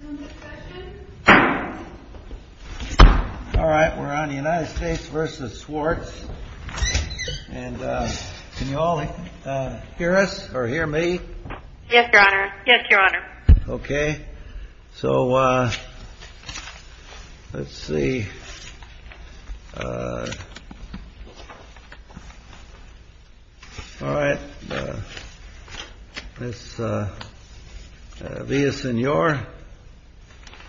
All right, we're on United States vs. SWARTZ. And can you all hear us or hear me? Yes, your honor. Yes, your honor. OK, so let's see. All right, Ms. Villasenor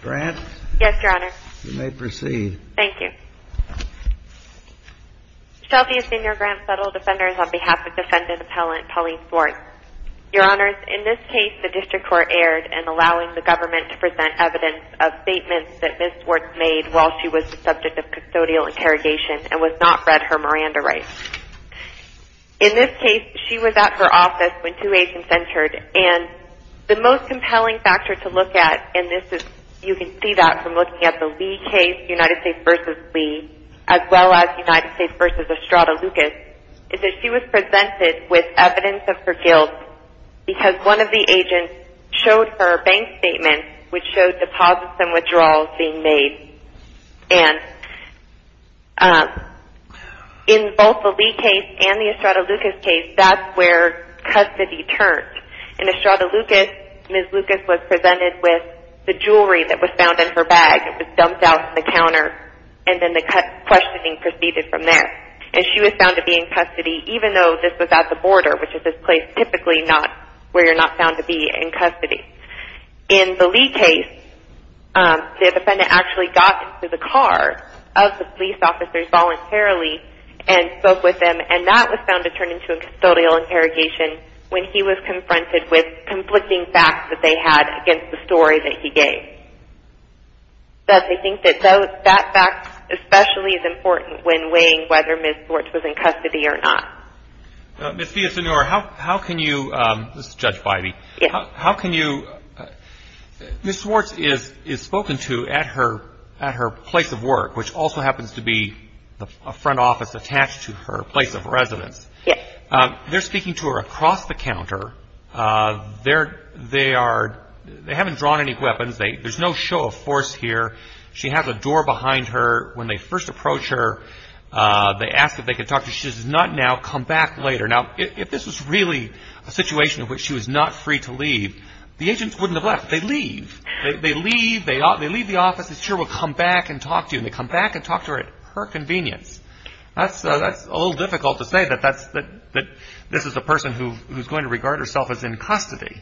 Grant. Yes, your honor. You may proceed. Thank you. Shelby Villasenor Grant, Federal Defenders, on behalf of defendant appellant Pauline Swartz. Your honors, in this case the district court erred in allowing the government to present evidence of statements that Ms. Swartz made while she was the subject of custodial interrogation and was not read her Miranda rights. In this case, she was at her office when two agents entered. And the most compelling factor to look at, and you can see that from looking at the Lee case, United States vs. Lee, as well as United States vs. Estrada Lucas, is that she was presented with evidence of her guilt because one of the agents showed her a bank statement which showed deposits and withdrawals being made. And in both the Lee case and the Estrada Lucas case, that's where custody turns. In Estrada Lucas, Ms. Lucas was presented with the jewelry that was found in her bag. It was dumped out on the counter, and then the questioning proceeded from there. And she was found to be in custody, even though this was at the border, which is this place typically where you're not found to be in custody. In the Lee case, the defendant actually got into the car of the police officers voluntarily and spoke with them. And that was found to turn into a custodial interrogation when he was confronted with conflicting facts that they had against the story that he gave. So I think that that fact especially is important when weighing whether Ms. Swartz was in custody or not. Ms. Villasenor, how can you – this is Judge Bybee – how can you – Ms. Swartz is spoken to at her place of work, which also happens to be a front office attached to her place of residence. They're speaking to her across the counter. They are – they haven't drawn any weapons. There's no show of force here. She has a door behind her. When they first approach her, they ask if they could talk to her. She does not now come back later. Now, if this was really a situation in which she was not free to leave, the agents wouldn't have left. They leave. They leave. They leave the office. They say, sure, we'll come back and talk to you. And they come back and talk to her at her convenience. That's a little difficult to say that this is a person who's going to regard herself as in custody.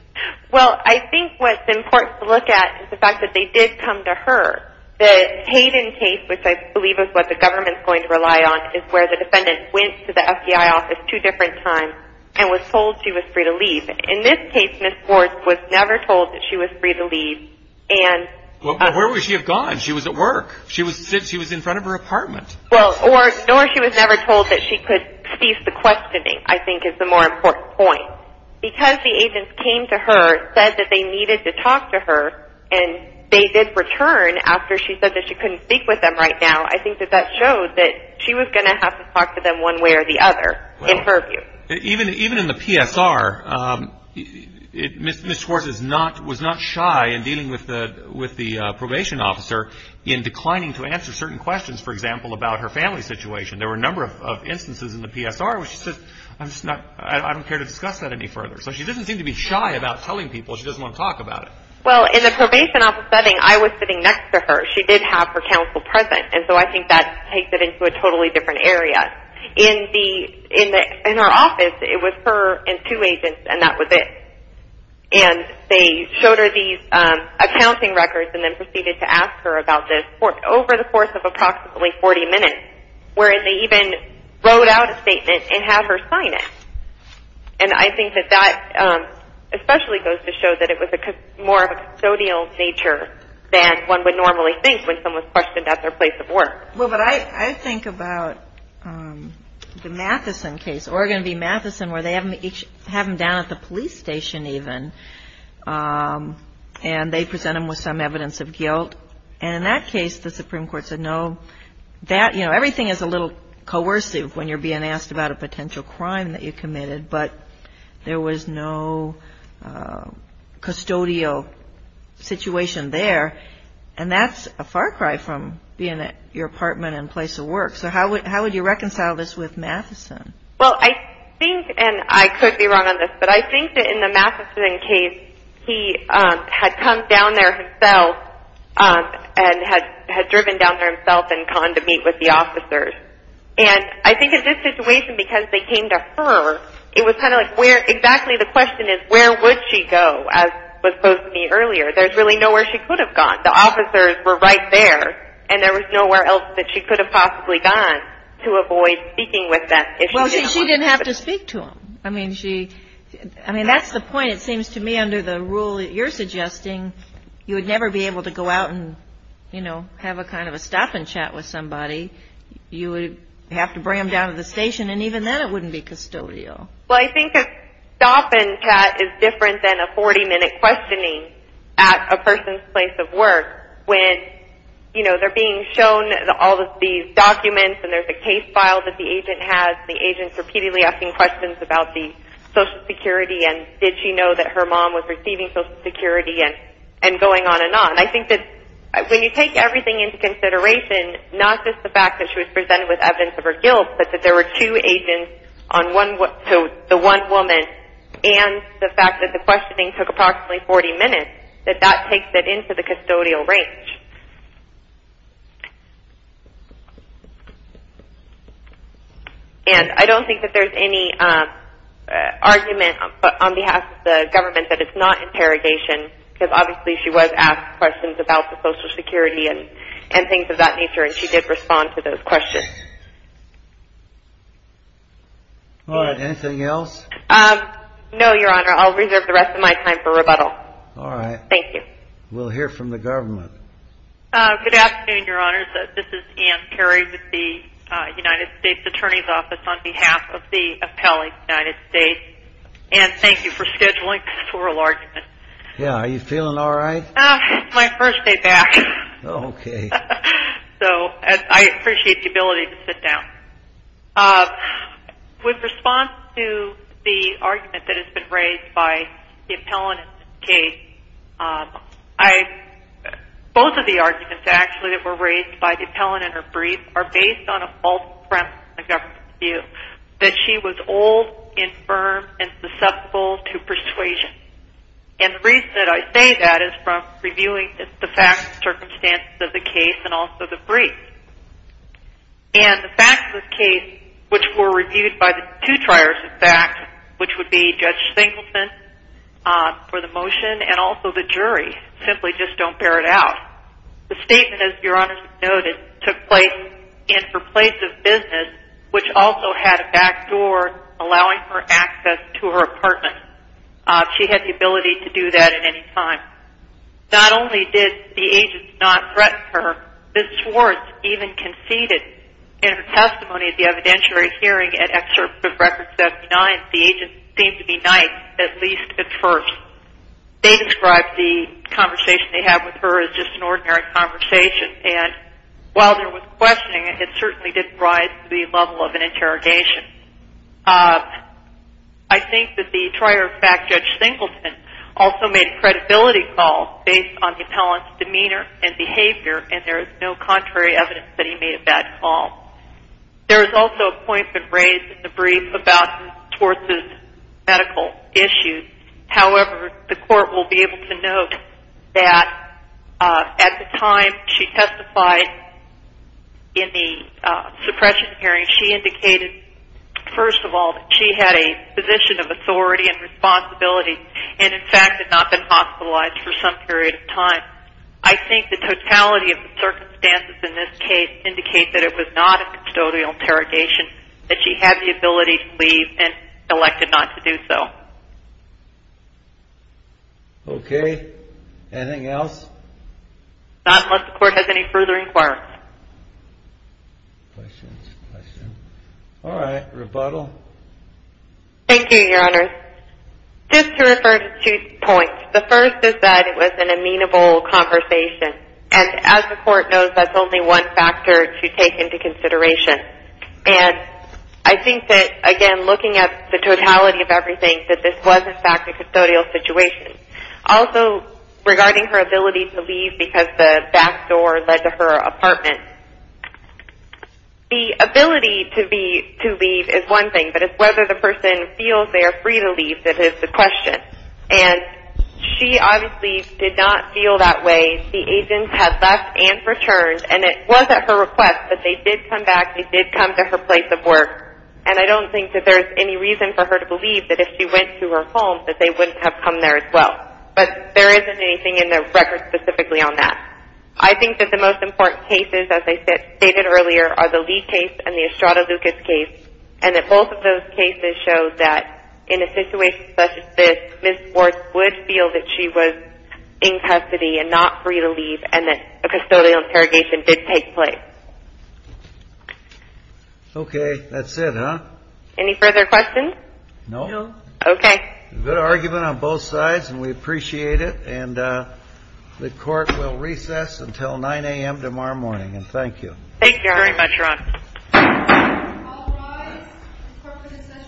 Well, I think what's important to look at is the fact that they did come to her. The Hayden case, which I believe is what the government's going to rely on, is where the defendant went to the FBI office two different times and was told she was free to leave. In this case, Ms. Swartz was never told that she was free to leave. But where would she have gone? She was at work. She was in front of her apartment. Well, nor she was never told that she could cease the questioning, I think, is the more important point. Because the agents came to her, said that they needed to talk to her, and they did return after she said that she couldn't speak with them right now, I think that that showed that she was going to have to talk to them one way or the other, in her view. Even in the PSR, Ms. Swartz was not shy in dealing with the probation officer in declining to answer certain questions, for example, about her family situation. There were a number of instances in the PSR where she said, I don't care to discuss that any further. So she doesn't seem to be shy about telling people she doesn't want to talk about it. Well, in the probation office setting, I was sitting next to her. She did have her counsel present, and so I think that takes it into a totally different area. In our office, it was her and two agents, and that was it. And they showed her these accounting records and then proceeded to ask her about this over the course of approximately 40 minutes, where they even wrote out a statement and had her sign it. And I think that that especially goes to show that it was more of a custodial nature than one would normally think when someone's questioned at their place of work. Well, but I think about the Matheson case, Oregon v. Matheson, where they have them down at the police station even, and they present them with some evidence of guilt. And in that case, the Supreme Court said, no, that, you know, everything is a little coercive when you're being asked about a potential crime that you committed, but there was no custodial situation there. And that's a far cry from being at your apartment and place of work. So how would you reconcile this with Matheson? Well, I think, and I could be wrong on this, but I think that in the Matheson case, he had come down there himself and had driven down there himself and gone to meet with the officers. And I think in this situation, because they came to her, it was kind of like where exactly the question is, where would she go, as was posed to me earlier. There's really nowhere she could have gone. The officers were right there, and there was nowhere else that she could have possibly gone to avoid speaking with them. Well, she didn't have to speak to them. I mean, that's the point, it seems to me, under the rule that you're suggesting. You would never be able to go out and, you know, have a kind of a stop-and-chat with somebody. You would have to bring them down to the station, and even then it wouldn't be custodial. Well, I think a stop-and-chat is different than a 40-minute questioning at a person's place of work when, you know, they're being shown all of these documents, and there's a case file that the agent has, and the agent's repeatedly asking questions about the Social Security, and did she know that her mom was receiving Social Security, and going on and on. I think that when you take everything into consideration, not just the fact that she was presented with evidence of her guilt, but that there were two agents to the one woman, and the fact that the questioning took approximately 40 minutes, that that takes it into the custodial range. And I don't think that there's any argument on behalf of the government that it's not interrogation, because obviously she was asked questions about the Social Security and things of that nature, and she did respond to those questions. All right, anything else? No, Your Honor, I'll reserve the rest of my time for rebuttal. All right. Thank you. We'll hear from the government. Good afternoon, Your Honor. This is Ann Carey with the United States Attorney's Office on behalf of the appellee of the United States, and thank you for scheduling this oral argument. Yeah, are you feeling all right? It's my first day back. Okay. So I appreciate the ability to sit down. With response to the argument that has been raised by the appellant in this case, both of the arguments actually that were raised by the appellant in her brief are based on a false premise in the government's view that she was old, infirm, and susceptible to persuasion. And the reason that I say that is from reviewing the facts and circumstances of the case and also the brief. And the facts of the case, which were reviewed by the two triers of facts, which would be Judge Singleton for the motion and also the jury, simply just don't bear it out. The statement, as Your Honor noted, took place in her place of business, which also had a back door allowing her access to her apartment. She had the ability to do that at any time. Not only did the agents not threaten her, Ms. Swartz even conceded in her testimony at the evidentiary hearing at Excerpt of Record 79, the agents seemed to be nice, at least at first. They described the conversation they had with her as just an ordinary conversation. And while there was questioning, it certainly didn't rise to the level of an interrogation. I think that the trier of facts, Judge Singleton, also made a credibility call based on the appellant's demeanor and behavior, and there is no contrary evidence that he made a bad call. There was also a point that was raised in the brief about Ms. Swartz's medical issues. However, the court will be able to note that at the time she testified in the suppression hearing, she indicated, first of all, that she had a position of authority and responsibility, and in fact had not been hospitalized for some period of time. I think the totality of the circumstances in this case indicate that it was not a custodial interrogation, that she had the ability to leave and elected not to do so. Okay. Anything else? Not unless the court has any further inquiries. Questions? Questions? All right. Rebuttal? Thank you, Your Honor. Just to refer to two points. The first is that it was an amenable conversation, and as the court knows, that's only one factor to take into consideration. And I think that, again, looking at the totality of everything, that this was, in fact, a custodial situation. Also, regarding her ability to leave because the back door led to her apartment. The ability to leave is one thing, but it's whether the person feels they are free to leave that is the question. And she obviously did not feel that way. The agents had left and returned, and it was at her request that they did come back. They did come to her place of work. And I don't think that there's any reason for her to believe that if she went to her home, that they wouldn't have come there as well. But there isn't anything in the record specifically on that. I think that the most important cases, as I stated earlier, are the Lee case and the Estrada Lucas case, and that both of those cases show that in a situation such as this, Ms. Worth would feel that she was in custody and not free to leave, and that a custodial interrogation did take place. Okay. That's it, huh? Any further questions? No. Okay. Good argument on both sides, and we appreciate it. And the Court will recess until 9 a.m. tomorrow morning. And thank you. Thank you very much, Your Honor. All rise. The Court will recess just a moment, Your Honor.